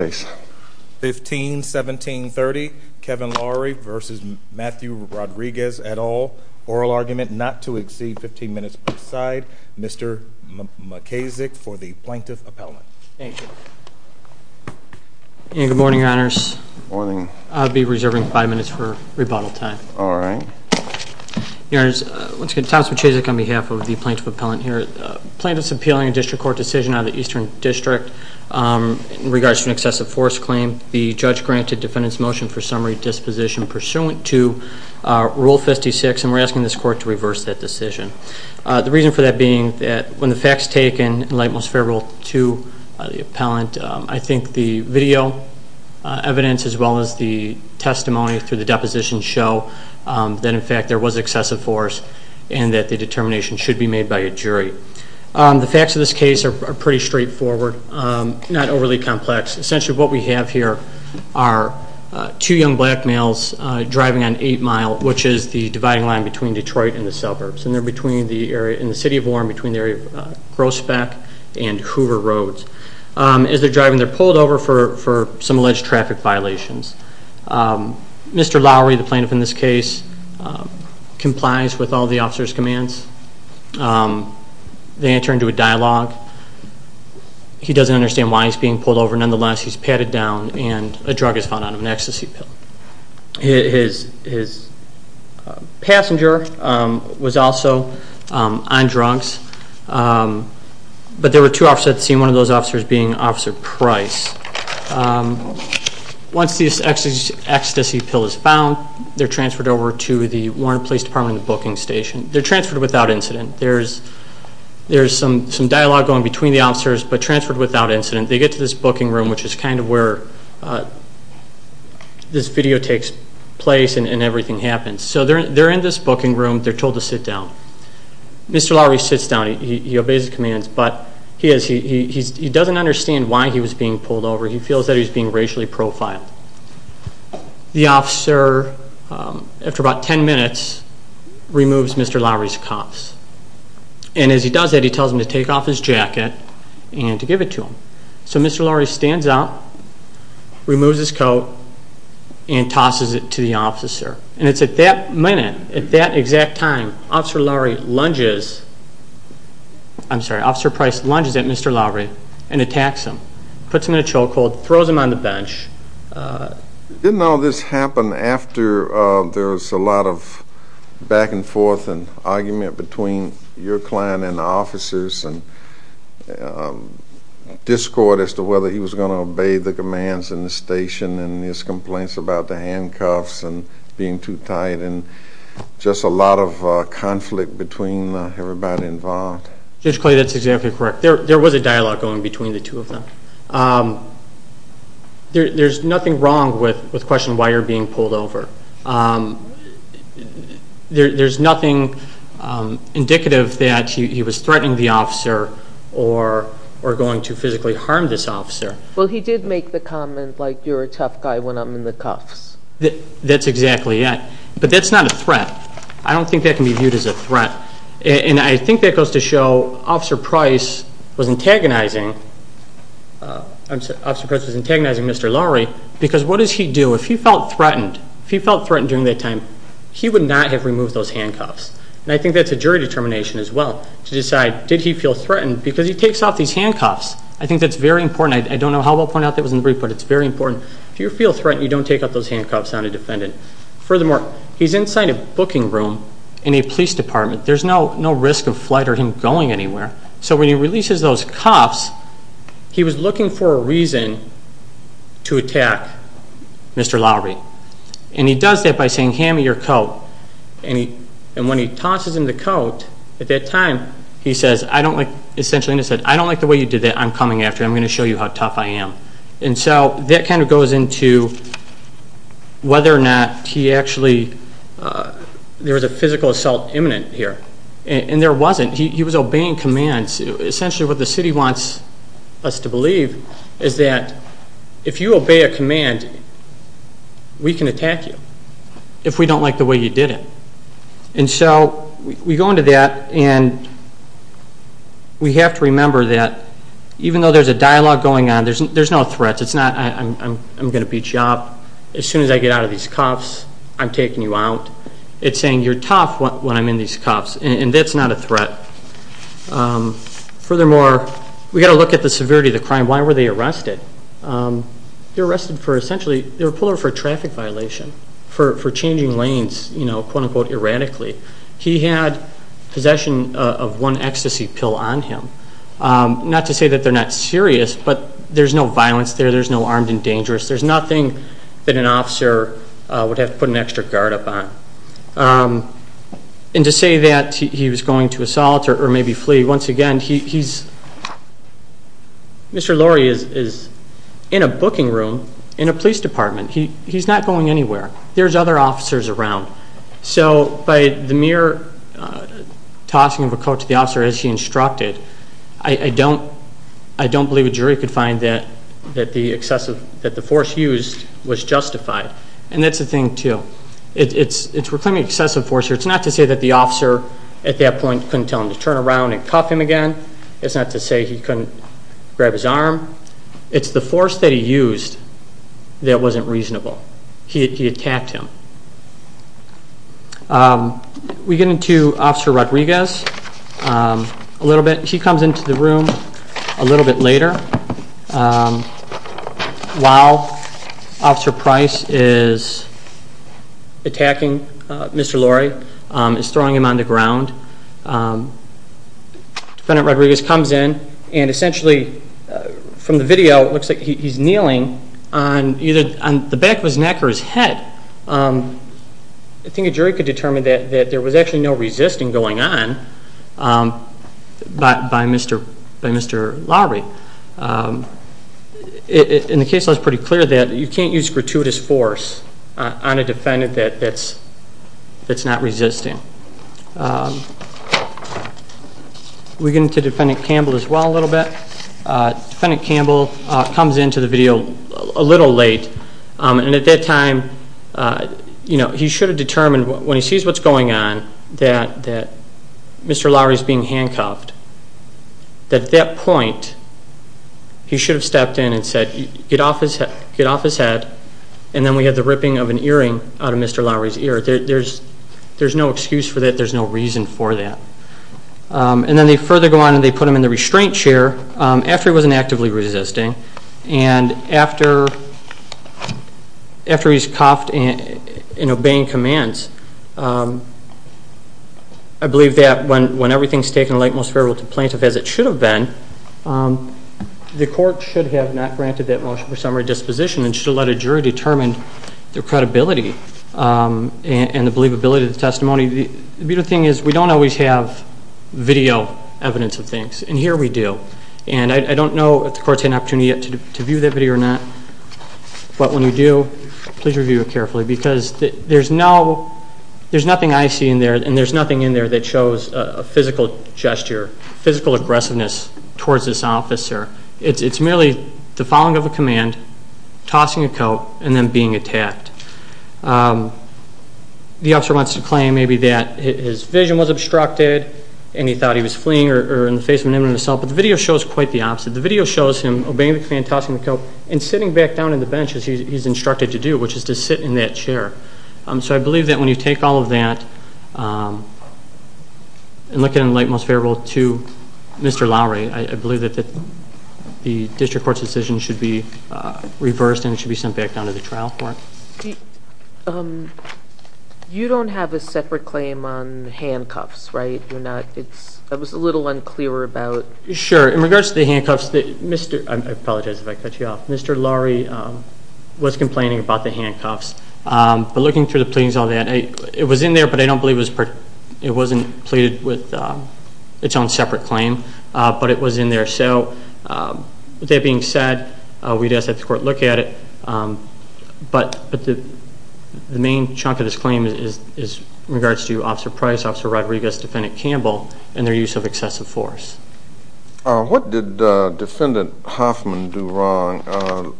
oral argument not to exceed 15 minutes per side. Mr. McKazick for the Plaintiff Appellant. Thank you. Good morning, Your Honors. I'll be reserving 5 minutes for rebuttal time. Alright. Your Honors, Thompson McKazick on behalf of the Plaintiff Appellant here. Plaintiff's appealing a district court decision out of the Eastern District in regards to an excessive force claim. The judge granted defendant's motion for summary disposition pursuant to Rule 56 and we're asking this court to reverse that decision. The reason for that being that when the facts taken in light most fair rule 2, the Appellant, I think the video evidence as well as the testimony through the deposition show that in fact there was excessive force and that the determination should be reversed. So what we have here are two young black males driving on 8 Mile, which is the dividing line between Detroit and the suburbs. And they're in the City of Warren between the area of Grosbeck and Hoover Road. As they're driving they're pulled over for some alleged traffic violations. Mr. Laury, the Plaintiff in this case, complies with all the officer's commands. They enter into a dialogue. He doesn't understand why he's being pulled over. Nonetheless, he's patted down and a drug is found on him, an ecstasy pill. His passenger was also on drugs. But there were two officers at the scene, one of those officers being Officer Price. Once the ecstasy pill is found, they're transferred over to the Warren Police Department booking station. They're transferred without incident. There's some dialogue going between the officers, but transferred without incident. They get to this booking room, which is kind of where this video takes place and everything happens. So they're in this booking room. They're told to sit down. Mr. Laury sits down. He obeys the commands, but he doesn't understand why he was being pulled over. He feels that he's being racially profiled. The officer, after about ten minutes, removes Mr. Laury's cuffs. And as he does that, he tells them to take off his jacket and to give it to him. So Mr. Laury stands up, removes his coat, and tosses it to the officer. And it's at that minute, at that exact time, Officer Price lunges at Mr. Laury and attacks him. Puts him in a chokehold, throws him on the bench. Didn't all this happen after there was a lot of back and forth and argument between your client and the officers, and discord as to whether he was going to obey the commands in the station, and his complaints about the handcuffs and being too tight, and just a lot of conflict between everybody involved? Judge Clay, that's exactly correct. There was a dialogue going between the two of them. There's nothing wrong with questioning why you're being pulled over. There's nothing indicative that he was threatening the officer, or going to physically harm this officer. Well, he did make the comment, like, you're a tough guy when I'm in the cuffs. That's exactly it. But that's not a threat. I don't think that can be viewed as a threat. And I think that goes to show Officer Price was antagonizing Officer Price was antagonizing Mr. Laury, because what does he do? If he felt threatened during that time, he would not have removed those handcuffs. And I think that's a jury determination as well, to decide, did he feel threatened? Because he takes off these handcuffs. I think that's very important. I don't know how well pointed out that was in the brief, but it's very important. If you feel threatened, you don't take off those handcuffs on a defendant. Furthermore, he's inside a booking room in a police department. There's no risk of flight or him going anywhere. So when he releases those cuffs, he was looking for a reason to attack Mr. Laury. And he does that by saying, hand me your coat. And when he tosses him the coat, at that time, he says, I don't like the way you did that. I'm coming after you. I'm going to show you how tough I am. And so that kind of goes into whether or not he actually, there was a physical assault imminent here. And there wasn't. He was obeying commands. Essentially what the city wants us to believe is that if you obey a command, we can attack you. If we don't like the way you did it. And so we go into that and we have to remember that even though there's a dialogue going on, there's no threat. I'm going to beat you up. As soon as I get out of these cuffs, I'm taking you out. It's saying you're tough when I'm in these cuffs. And that's not a threat. Furthermore, we've got to look at the severity of the crime. Why were they arrested? They were arrested for essentially, they were pulled over for a traffic violation. For changing lanes, quote unquote, erratically. He had possession of one ecstasy pill on him. Not to say that they're not serious, but there's no violence there. There's no armed and dangerous. There's nothing that an officer would have to put an extra guard up on. And to say that he was going to assault or maybe flee, once again, he's, Mr. Lorry is in a booking room in a police department. He's not going anywhere. There's other officers around. So by the mere tossing of a coat to the officer as he instructed, I don't believe a jury could find that the force used was justified. And that's the thing too. It's reclaiming excessive force. It's not to say that the officer at that point couldn't tell him to turn around and cuff him again. It's not to say he couldn't grab his arm. It's the force that he used that wasn't reasonable. He attacked him. We get into Officer Rodriguez a little bit. She comes into the room a little bit later. While Officer Price is attacking Mr. Lorry, is throwing him on the ground, Defendant Rodriguez comes in and essentially from the video, it looks like he's kneeling on either the back of his neck or his head. I think a jury could determine that there was actually no resisting going on by Mr. Lorry. In the case law it's pretty clear that you can't use gratuitous force on a defendant that's not resisting. We get into Defendant Campbell as well a little bit. Defendant Campbell comes into the video a little late and at that time he should have determined when he sees what's going on that Mr. Lorry is being handcuffed. At that point he should have stepped in and said get off his head and then we had the ripping of an earring out of Mr. Lorry's ear. There's no excuse for that. There's no reason for that. Then they further go on and put him in the restraint chair after he wasn't actively resisting and after he's cuffed and obeying commands I believe that when everything's taken like most fair will to plaintiff as it should have been the court should have not granted that motion for summary disposition and should have let a jury determine their credibility and the believability of the testimony. The beautiful thing is we don't always have video evidence of things and here we do. I don't know if the court's had an opportunity yet to view that video or not but when we do please review it carefully because there's no there's nothing I see in there and there's nothing in there that shows a physical gesture, physical aggressiveness towards this officer. It's merely the following of a command, tossing a coat and then being attacked. The officer wants to claim maybe that his vision was obstructed and he thought he was fleeing or in the face of an imminent assault but the video shows quite the opposite. The video shows him obeying the command, tossing the coat and sitting back down in the bench as he's instructed to do which is to sit in that chair. So I believe that when you take all of that and look at it like most fair will to Mr. Lowery I believe that the district court's decision should be reversed and it should be sent back down to the trial court. You don't have a separate claim on handcuffs right? I was a little unclear about. Sure, in regards to the handcuffs Mr. I apologize if I cut you off. Mr. Lowery was complaining about the handcuffs but looking through the pleadings on that it was in there but I don't believe it was pleaded with its own separate claim but it was in there so with that being said we'd ask that the court look at it but the main chunk of this claim is in regards to Officer Price, Officer Rodriguez, Defendant Campbell and their use of excessive force. What did Defendant Hoffman do wrong?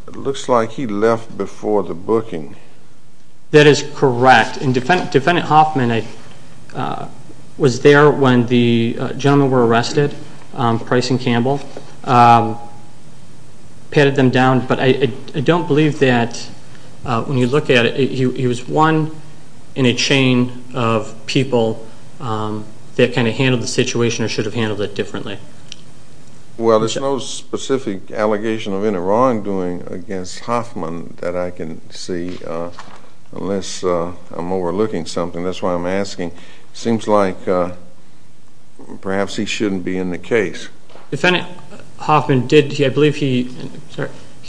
It looks like he left before the booking. That is correct and Defendant Hoffman was there when the gentlemen were arrested Price and Campbell, patted them down but I don't believe that when you look at it he was one in a chain of people that kind of handled the situation or should have handled it differently. Well there's no specific allegation of any wrongdoing against Hoffman that I can see unless I'm overlooking something that's why I'm asking. Seems like perhaps he shouldn't be in the case. Defendant Hoffman did, I believe he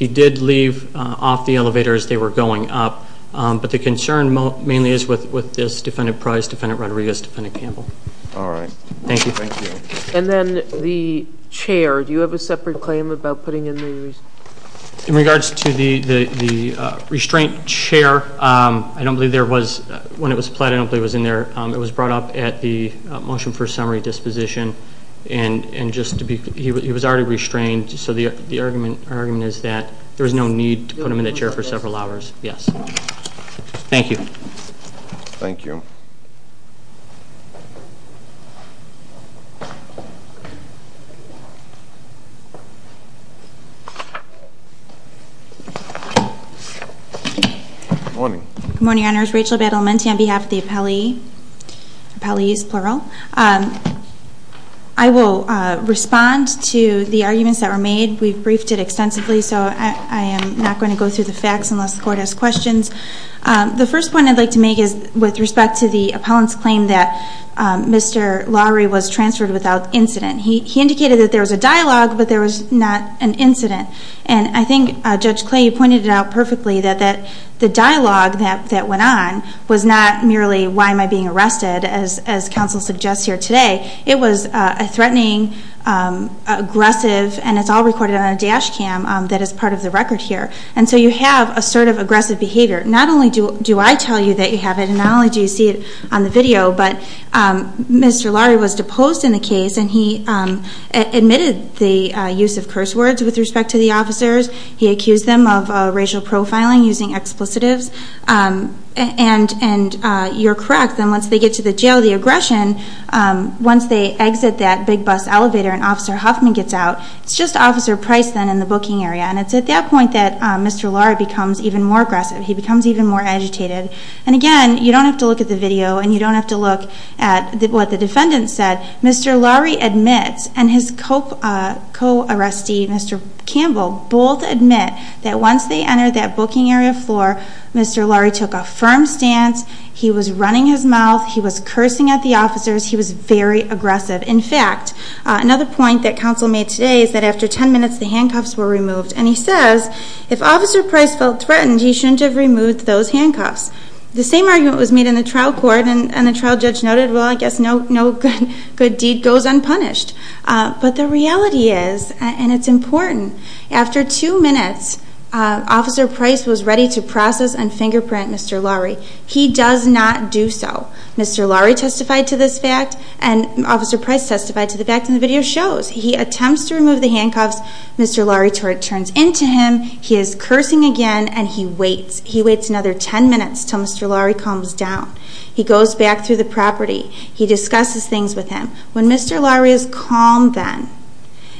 did leave off the elevator as they were going up but the concern mainly is with this Defendant Price, Defendant Rodriguez, Defendant Campbell. Alright. Thank you. And then the chair, do you have a separate claim about putting in the restraints? In regards to the restraint chair, I don't believe there was, when it was applied I don't believe it was in there, it was brought up at the motion for summary disposition and just to be, he was already restrained so the argument is that there was no need to put him in that chair for several hours. Yes. Thank you. Thank you. Good morning. Good morning your honors. Rachel Badalamenti on behalf of the appellee. Appellee is plural. I will respond to the arguments that were made. We've briefed it extensively so I am not going to go through the facts unless the court has questions. The first point I'd like to make is with respect to the appellant's claim that Mr. Lowery was transferred without incident. He indicated that there was a dialogue but there was not an incident. And I think Judge Clay pointed it out perfectly that the dialogue that went on was not merely why am I being arrested as counsel suggests here today. It was a threatening aggressive and it's all recorded on a dash cam that is part of the record here. And so you have a sort of Mr. Lowery was deposed in the case and he admitted the use of curse words with respect to the officers. He accused them of racial profiling using explicatives. And you're correct that once they get to the jail the aggression, once they exit that big bus elevator and Officer Huffman gets out, it's just Officer Price then in the booking area. And it's at that point that Mr. Lowery becomes even more aggressive. He becomes even more agitated. And again you don't have to look at the video and you don't have to look at what the defendant said. Mr. Lowery admits and his co-arrestee Mr. Campbell both admit that once they entered that booking area floor Mr. Lowery took a firm stance. He was running his mouth. He was cursing at the officers. He was very aggressive. In fact another point that counsel made today is that after 10 minutes the handcuffs were removed. And he says if Officer Price felt threatened he shouldn't have removed those handcuffs. The same argument was made in the trial court and the trial judge noted well I guess no good deed goes unpunished. But the reality is and it's important after two minutes Officer Price was ready to process and fingerprint Mr. Lowery. He does not do so. Mr. Lowery testified to this fact and Officer Price testified to the fact and the video shows. He attempts to remove the handcuffs. Mr. Lowery turns into him. He is cursing again and he waits. He waits another 10 minutes until Mr. Lowery calms down. He goes back through the property. He discusses things with him. When Mr. Lowery is calm then,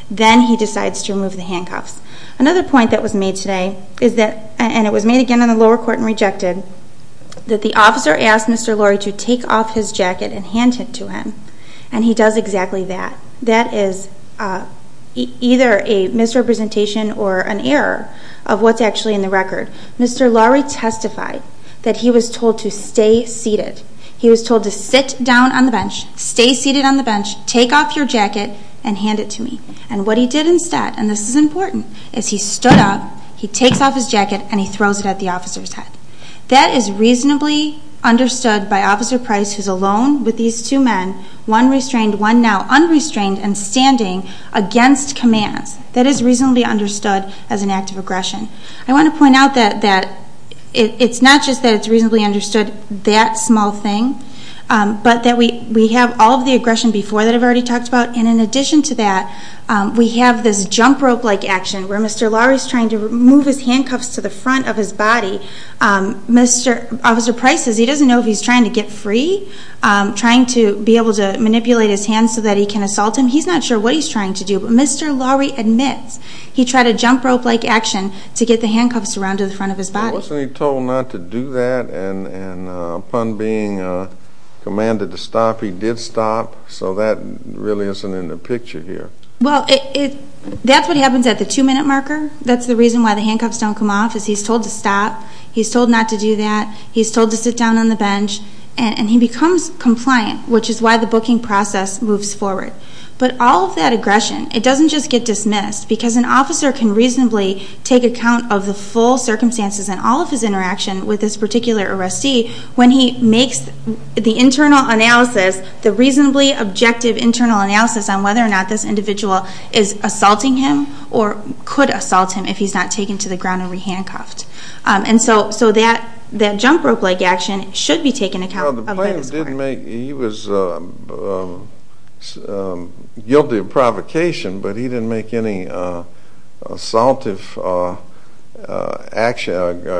then he decides to remove the handcuffs. The officer asks Mr. Lowery to take off his jacket and hand it to him. And he does exactly that. That is either a misrepresentation or an error of what's actually in the record. Mr. Lowery testified that he was told to stay seated. He was told to sit down on the bench, stay seated on the bench, take off your jacket and hand it to me. And what he did instead and this is important, is he stood up, he takes off his jacket and he throws it at the officer's head. That is reasonably understood by Officer Price who is alone with these two men, one restrained, one now unrestrained and standing against commands. That is reasonably understood as an act of aggression. I want to point out that it's not just that it's reasonably understood, that small thing, but that we have all of the aggression before that I've already talked about. And in addition to that, we have this jump rope like action where Mr. Lowery is trying to move his handcuffs to the front of his body. Officer Price, he doesn't know if he's trying to get free, trying to be able to manipulate his hands so that he can assault him. He's not sure what he's trying to do. But Mr. Lowery admits he tried a jump rope like action to get the handcuffs around to the front of his body. Wasn't he told not to do that and upon being commanded to stop he did stop? So that really isn't in the picture here. Well, that's what happens at the two minute marker. That's the reason why the handcuffs don't come off is he's told to stop, he's told not to do that, he's told to sit down on the bench and he becomes compliant which is why the booking process moves forward. But all of that aggression, it doesn't just get dismissed because an officer can reasonably take account of the full circumstances and all of his interaction with this particular arrestee when he makes the internal analysis, the reasonably objective internal analysis on whether or not this individual is assaulting him or could assault him if he's not taken to the ground and re-handcuffed. And so that jump rope like action should be taken account of at this point. He was guilty of provocation, but he didn't make any assaultive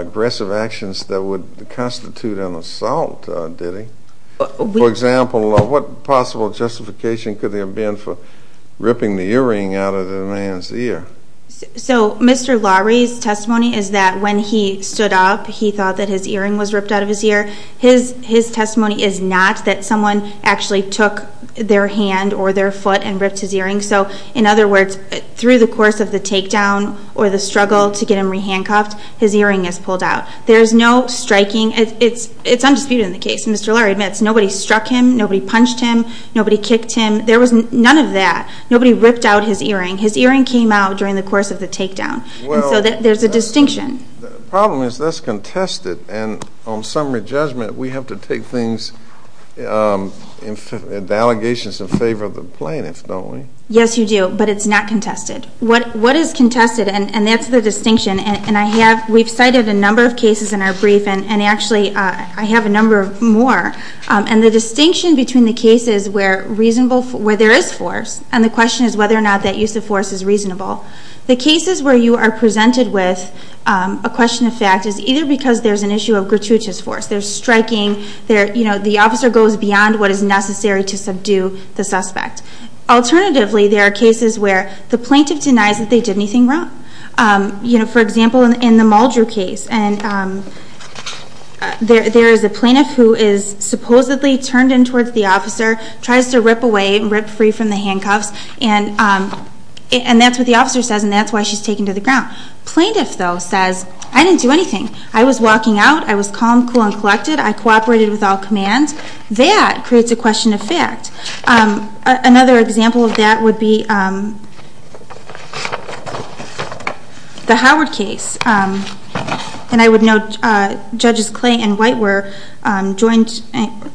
aggressive actions that would constitute an assault, did he? For example, what possible justification could there have been for ripping the earring out of the man's ear? So Mr. Lowery's testimony is that when he stood up he thought that his earring was ripped out of his ear. His testimony is not that someone actually took their hand or their foot and ripped his earring. So in other words, through the course of the takedown or the struggle to get him re-handcuffed, his earring is pulled out. There's no striking. It's undisputed in the case. Mr. Lowery admits nobody struck him, nobody punched him, nobody kicked him. There was none of that. Nobody ripped out his earring. His earring came out during the course of the takedown. And so there's a distinction. The problem is that's contested, and on summary judgment we have to take things, the allegations in favor of the plaintiffs, don't we? Yes, you do. But it's not contested. What is contested, and that's the distinction, and we've cited a number of cases in our brief, and actually I have a number more. And the distinction between the cases where there is force, and the question is whether or not that use of force is reasonable, the cases where you are presented with a question of fact is either because there's an issue of gratuitous force, there's striking, the officer goes beyond what is necessary to subdue the suspect. Alternatively, there are cases where the plaintiff denies that they did anything wrong. For example, in the Muldrew case, there is a plaintiff who is supposedly turned in towards the officer, tries to rip away and rip free from the handcuffs, and that's what the officer says, and that's why she's taken to the ground. Plaintiff, though, says, I didn't do anything. I was walking out, I was calm, cool, and collected. I cooperated with all commands. That creates a question of fact. Another example of that would be the Howard case. And I would note, Judges Clay and White were joined,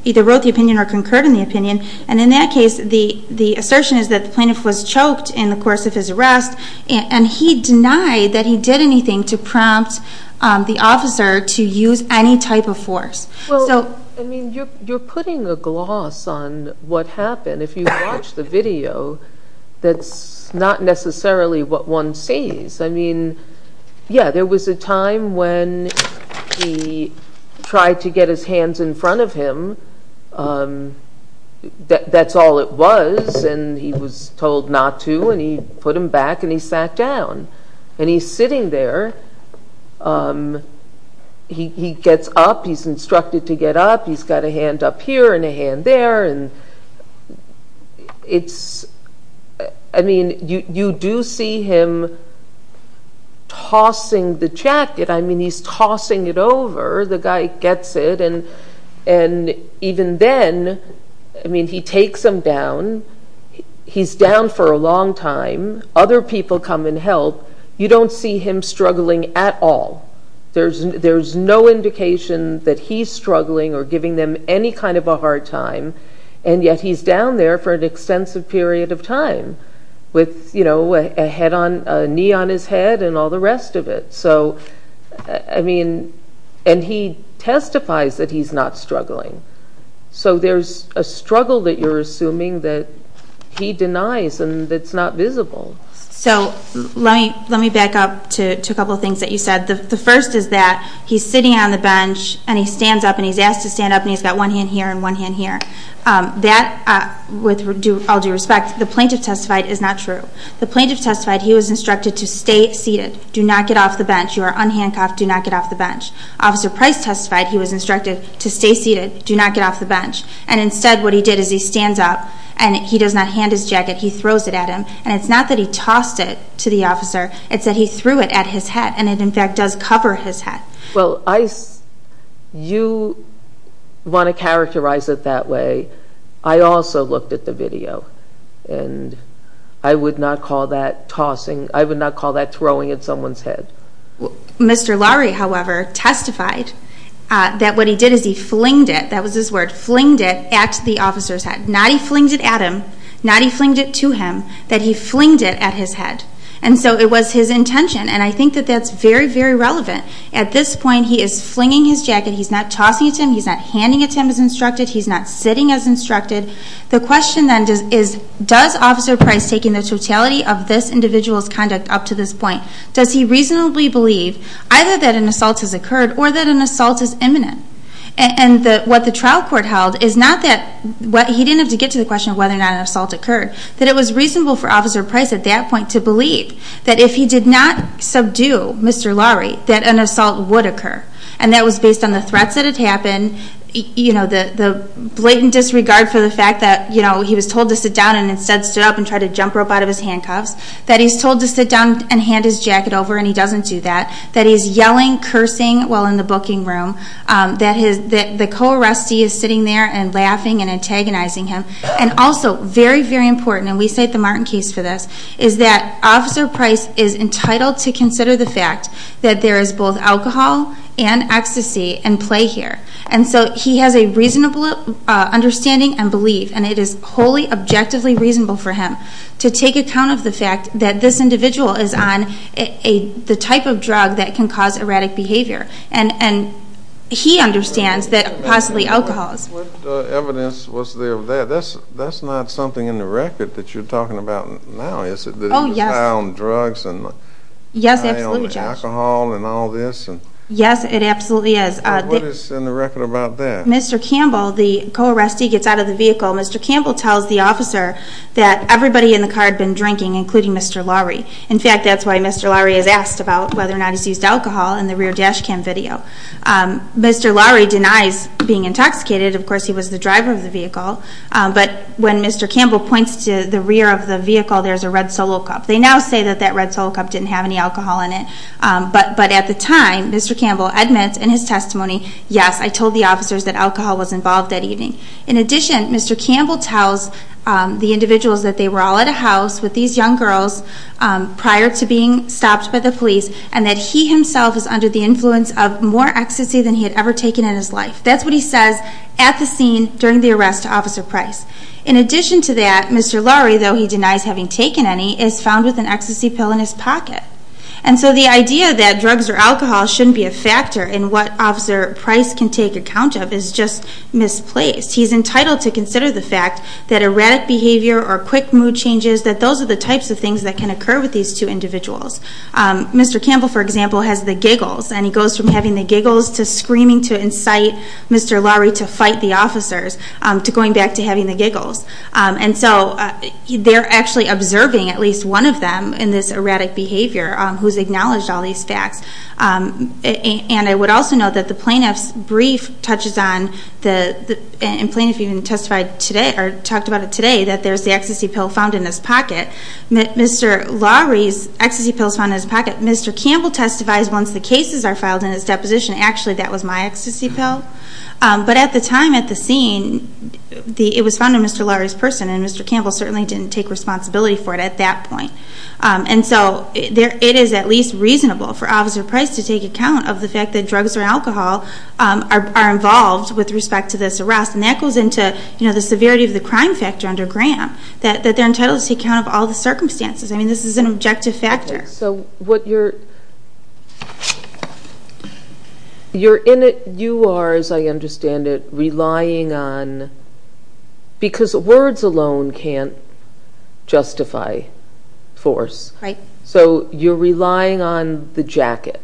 either wrote the opinion or concurred on the opinion, and in that case, the assertion is that the plaintiff was choked in the course of his arrest, and he denied that he did anything to prompt the officer to use any type of force. Well, I mean, you're putting a gloss on what happened. If you watch the video, that's not necessarily what one sees. I mean, yeah, there was a time when he tried to get his hands in front of him. That's all it was, and he was told not to, and he put them back, and he sat down. And he's sitting there. He gets up. He's instructed to get up. He's got a hand up here and a hand there. I mean, you do see him tossing the jacket. I mean, he's tossing it over. The guy gets it, and even then, I mean, he takes him down. He's down for a long time. Other people come and help. You don't see him struggling at all. There's no indication that he's struggling or giving them any kind of a hard time, and yet he's down there for an extensive period of time with a knee on his head and all the rest of it. So, I mean, and he testifies that he's not struggling. So there's a struggle that you're assuming that he denies and that's not visible. So let me back up to a couple of things that you said. The first is that he's sitting on the bench, and he stands up, and he's asked to stand up, and he's got one hand here and one hand here. That, with all due respect, the plaintiff testified is not true. The plaintiff testified he was instructed to stay seated. Do not get off the bench. You are unhandcuffed. Do not get off the bench. Officer Price testified he was instructed to stay seated. Do not get off the bench. And instead, what he did is he stands up, and he does not hand his jacket. He throws it at him. And it's not that he tossed it to the officer. It's that he threw it at his head, and it, in fact, does cover his head. Well, you want to characterize it that way. I also looked at the video, and I would not call that tossing. I would not call that throwing at someone's head. Mr. Lowry, however, testified that what he did is he flinged it. That was his word. Flinged it at the officer's head. Not he flinged it at him. Not he flinged it to him. That he flinged it at his head. And so it was his intention. And I think that that's very, very relevant. At this point, he is flinging his jacket. He's not tossing it to him. He's not handing it to him as instructed. He's not sitting as instructed. The question then is, does Officer Price, taking the totality of this individual's conduct up to this point, does he reasonably believe either that an assault has occurred or that an assault is imminent? And what the trial court held is not that he didn't have to get to the question of whether or not an assault occurred. That it was reasonable for Officer Price, at that point, to believe that if he did not subdue Mr. Lowry, that an assault would occur. And that was based on the threats that had happened, the blatant disregard for the fact that he was told to sit down and instead stood up and tried to jump rope out of his handcuffs. That he's told to sit down and hand his jacket over and he doesn't do that. That he's yelling, cursing while in the booking room. That the co-arrestee is sitting there and laughing and antagonizing him. And also, very, very important, and we cite the Martin case for this, is that Officer Price is entitled to consider the fact that there is both alcohol and ecstasy at play here. And so he has a reasonable understanding and belief, and it is wholly, objectively reasonable for him to take account of the fact that this individual is on the type of drug that can cause erratic behavior. And he understands that possibly alcohol is... What evidence was there of that? That's not something in the record that you're talking about now, is it? Oh, yes. That he was high on drugs and high on alcohol and all this? Yes, it absolutely is. What is in the record about that? Mr. Campbell, the co-arrestee, gets out of the vehicle. Mr. Campbell tells the officer that everybody in the car had been drinking, including Mr. Lowry. In fact, that's why Mr. Lowry is asked about whether or not he's used alcohol in the rear dash cam video. Mr. Lowry denies being intoxicated. Of course, he was the driver of the vehicle. But when Mr. Campbell points to the rear of the vehicle, there's a red Solo cup. They now say that that red Solo cup didn't have any alcohol in it. But at the time, Mr. Campbell admits in his testimony, yes, I told the officers that alcohol was involved that evening. In addition, Mr. Campbell tells the individuals that they were all at a house with these young girls prior to being stopped by the police, and that he himself is under the influence of more ecstasy than he had ever taken in his life. That's what he says at the scene during the arrest to Officer Price. In addition to that, Mr. Lowry, though he denies having taken any, is found with an ecstasy pill in his pocket. And so the idea that drugs or alcohol shouldn't be a factor in what Officer Price can take account of is just misplaced. He's entitled to consider the fact that erratic behavior or quick mood changes, that those are the types of things that can occur with these two individuals. Mr. Campbell, for example, has the giggles. And he goes from having the giggles to screaming to incite Mr. Lowry to fight the officers to going back to having the giggles. And so they're actually observing at least one of them in this erratic behavior who's acknowledged all these facts. And I would also note that the plaintiff's brief touches on, and the plaintiff even testified today, or talked about it today, that there's the ecstasy pill found in his pocket. Mr. Lowry's ecstasy pill is found in his pocket. Mr. Campbell testified once the cases are filed in his deposition. Actually, that was my ecstasy pill. But at the time at the scene, it was found in Mr. Lowry's person, and Mr. Campbell certainly didn't take responsibility for it at that point. And so it is at least reasonable for Officer Price to take account of the fact that drugs or alcohol are involved with respect to this arrest. And that goes into the severity of the crime factor under Graham, that they're entitled to take account of all the circumstances. I mean, this is an objective factor. So what you're in it, you are, as I understand it, relying on, because words alone can't justify force. Right. So you're relying on the jacket.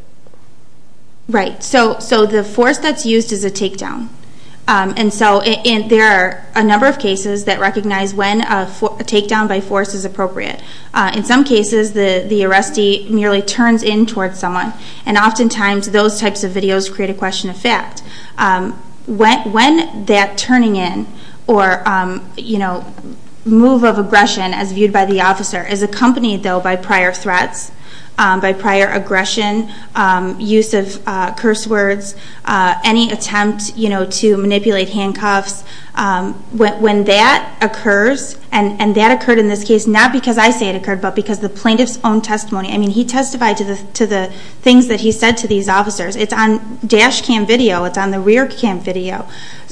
Right. So the force that's used is a takedown. And so there are a number of cases that recognize when a takedown by force is appropriate. In some cases, the arrestee merely turns in towards someone, and oftentimes those types of videos create a question of fact. When that turning in or, you know, move of aggression as viewed by the officer is accompanied, though, by prior threats, by prior aggression, use of curse words, any attempt, you know, to manipulate handcuffs. When that occurs, and that occurred in this case not because I say it occurred, but because the plaintiff's own testimony. I mean, he testified to the things that he said to these officers. It's on dash cam video. It's on the rear cam video.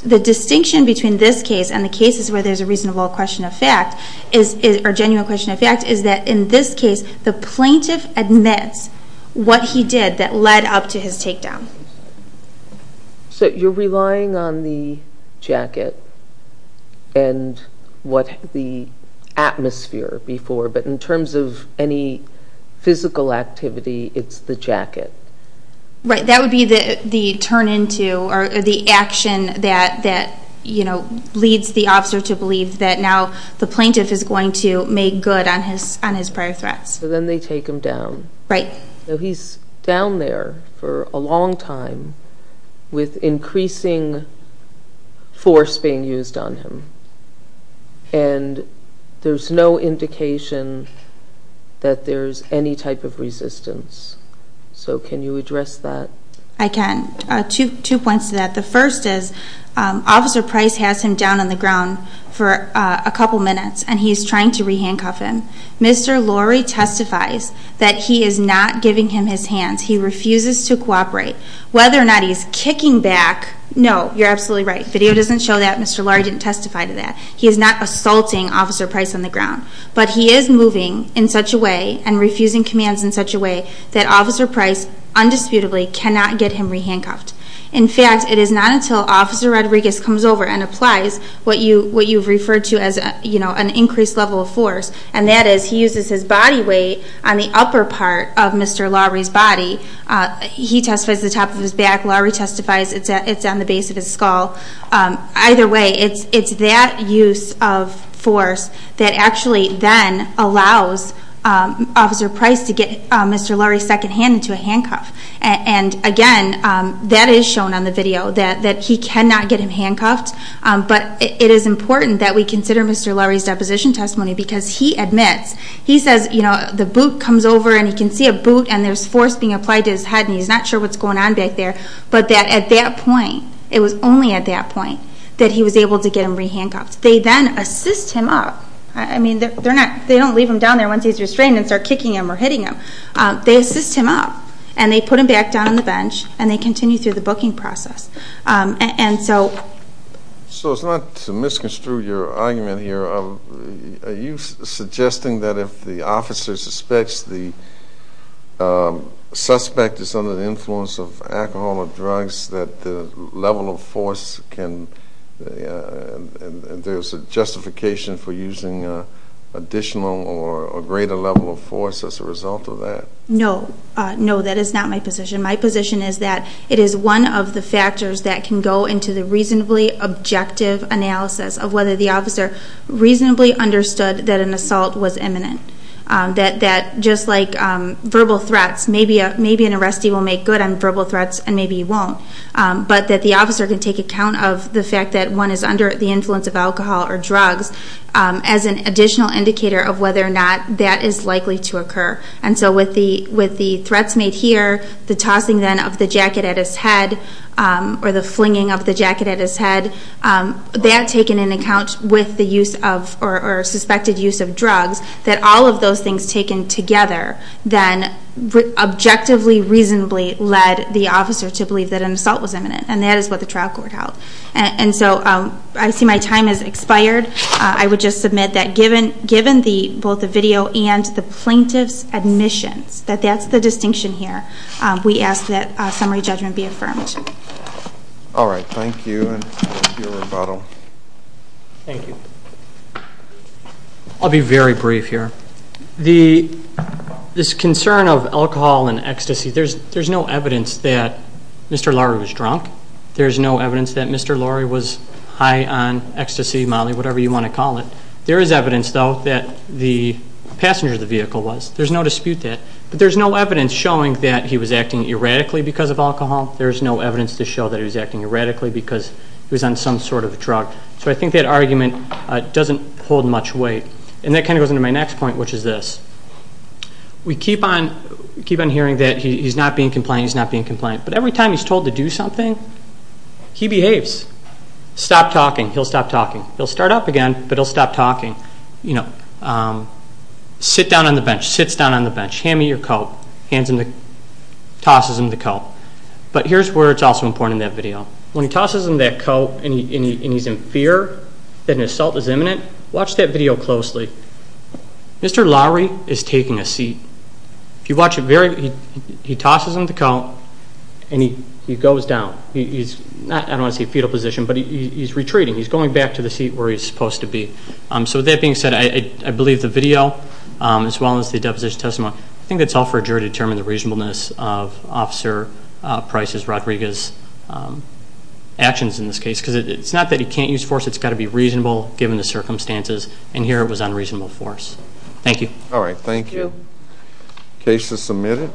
The distinction between this case and the cases where there's a reasonable question of fact or genuine question of fact is that in this case, the plaintiff admits what he did that led up to his takedown. So you're relying on the jacket and what the atmosphere before, but in terms of any physical activity, it's the jacket. Right. That would be the turn into or the action that, you know, leads the officer to believe that now the plaintiff is going to make good on his prior threats. So then they take him down. Right. He's down there for a long time with increasing force being used on him, and there's no indication that there's any type of resistance. So can you address that? I can. Two points to that. The first is Officer Price has him down on the ground for a couple minutes, and he's trying to re-handcuff him. Mr. Lorry testifies that he is not giving him his hands. He refuses to cooperate. Whether or not he's kicking back, no, you're absolutely right. Video doesn't show that. Mr. Lorry didn't testify to that. He is not assaulting Officer Price on the ground, but he is moving in such a way and refusing commands in such a way that Officer Price undisputably cannot get him re-handcuffed. In fact, it is not until Officer Rodriguez comes over and applies what you've referred to as, you know, an increased level of force, and that is he uses his body weight on the upper part of Mr. Lorry's body. He testifies at the top of his back. Lorry testifies it's on the base of his skull. Either way, it's that use of force that actually then allows Officer Price to get Mr. Lorry secondhand into a handcuff. And, again, that is shown on the video, that he cannot get him handcuffed. But it is important that we consider Mr. Lorry's deposition testimony because he admits, he says, you know, the boot comes over and he can see a boot and there's force being applied to his head and he's not sure what's going on back there, but that at that point, it was only at that point, that he was able to get him re-handcuffed. They then assist him up. I mean, they don't leave him down there once he's restrained and start kicking him or hitting him. They assist him up, and they put him back down on the bench, and they continue through the booking process. So it's not to misconstrue your argument here. Are you suggesting that if the officer suspects the suspect is under the influence of alcohol or drugs, that the level of force can, and there's a justification for using additional or greater level of force as a result of that? No. No, that is not my position. My position is that it is one of the factors that can go into the reasonably objective analysis of whether the officer reasonably understood that an assault was imminent, that just like verbal threats, maybe an arrestee will make good on verbal threats and maybe he won't, but that the officer can take account of the fact that one is under the influence of alcohol or drugs as an additional indicator of whether or not that is likely to occur. And so with the threats made here, the tossing then of the jacket at his head or the flinging of the jacket at his head, that taken into account with the use of or suspected use of drugs, that all of those things taken together then objectively reasonably led the officer to believe that an assault was imminent, and that is what the trial court held. And so I see my time has expired. I would just submit that given both the video and the plaintiff's admissions, that that's the distinction here. We ask that summary judgment be affirmed. All right. Thank you. And I'll give you a rebuttal. Thank you. I'll be very brief here. This concern of alcohol and ecstasy, there's no evidence that Mr. Lowery was drunk. There's no evidence that Mr. Lowery was high on ecstasy, molly, whatever you want to call it. There is evidence, though, that the passenger of the vehicle was. There's no dispute that. But there's no evidence showing that he was acting erratically because of alcohol. There's no evidence to show that he was acting erratically because he was on some sort of drug. So I think that argument doesn't hold much weight. And that kind of goes into my next point, which is this. We keep on hearing that he's not being compliant, he's not being compliant. But every time he's told to do something, he behaves. Stop talking, he'll stop talking. He'll start up again, but he'll stop talking. You know, sit down on the bench, sits down on the bench, hand me your coat, tosses him the coat. But here's where it's also important in that video. When he tosses him that coat and he's in fear that an assault is imminent, watch that video closely. Mr. Lowery is taking a seat. If you watch it very closely, he tosses him the coat and he goes down. I don't want to say fetal position, but he's retreating. He's going back to the seat where he's supposed to be. So with that being said, I believe the video as well as the deposition testimony, I think that's all for a jury to determine the reasonableness of Officer Price's, Rodriguez's, actions in this case. Because it's not that he can't use force, it's got to be reasonable given the circumstances. And here it was unreasonable force. Thank you. All right. Thank you. Case is submitted.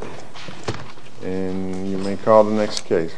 And you may call the next case.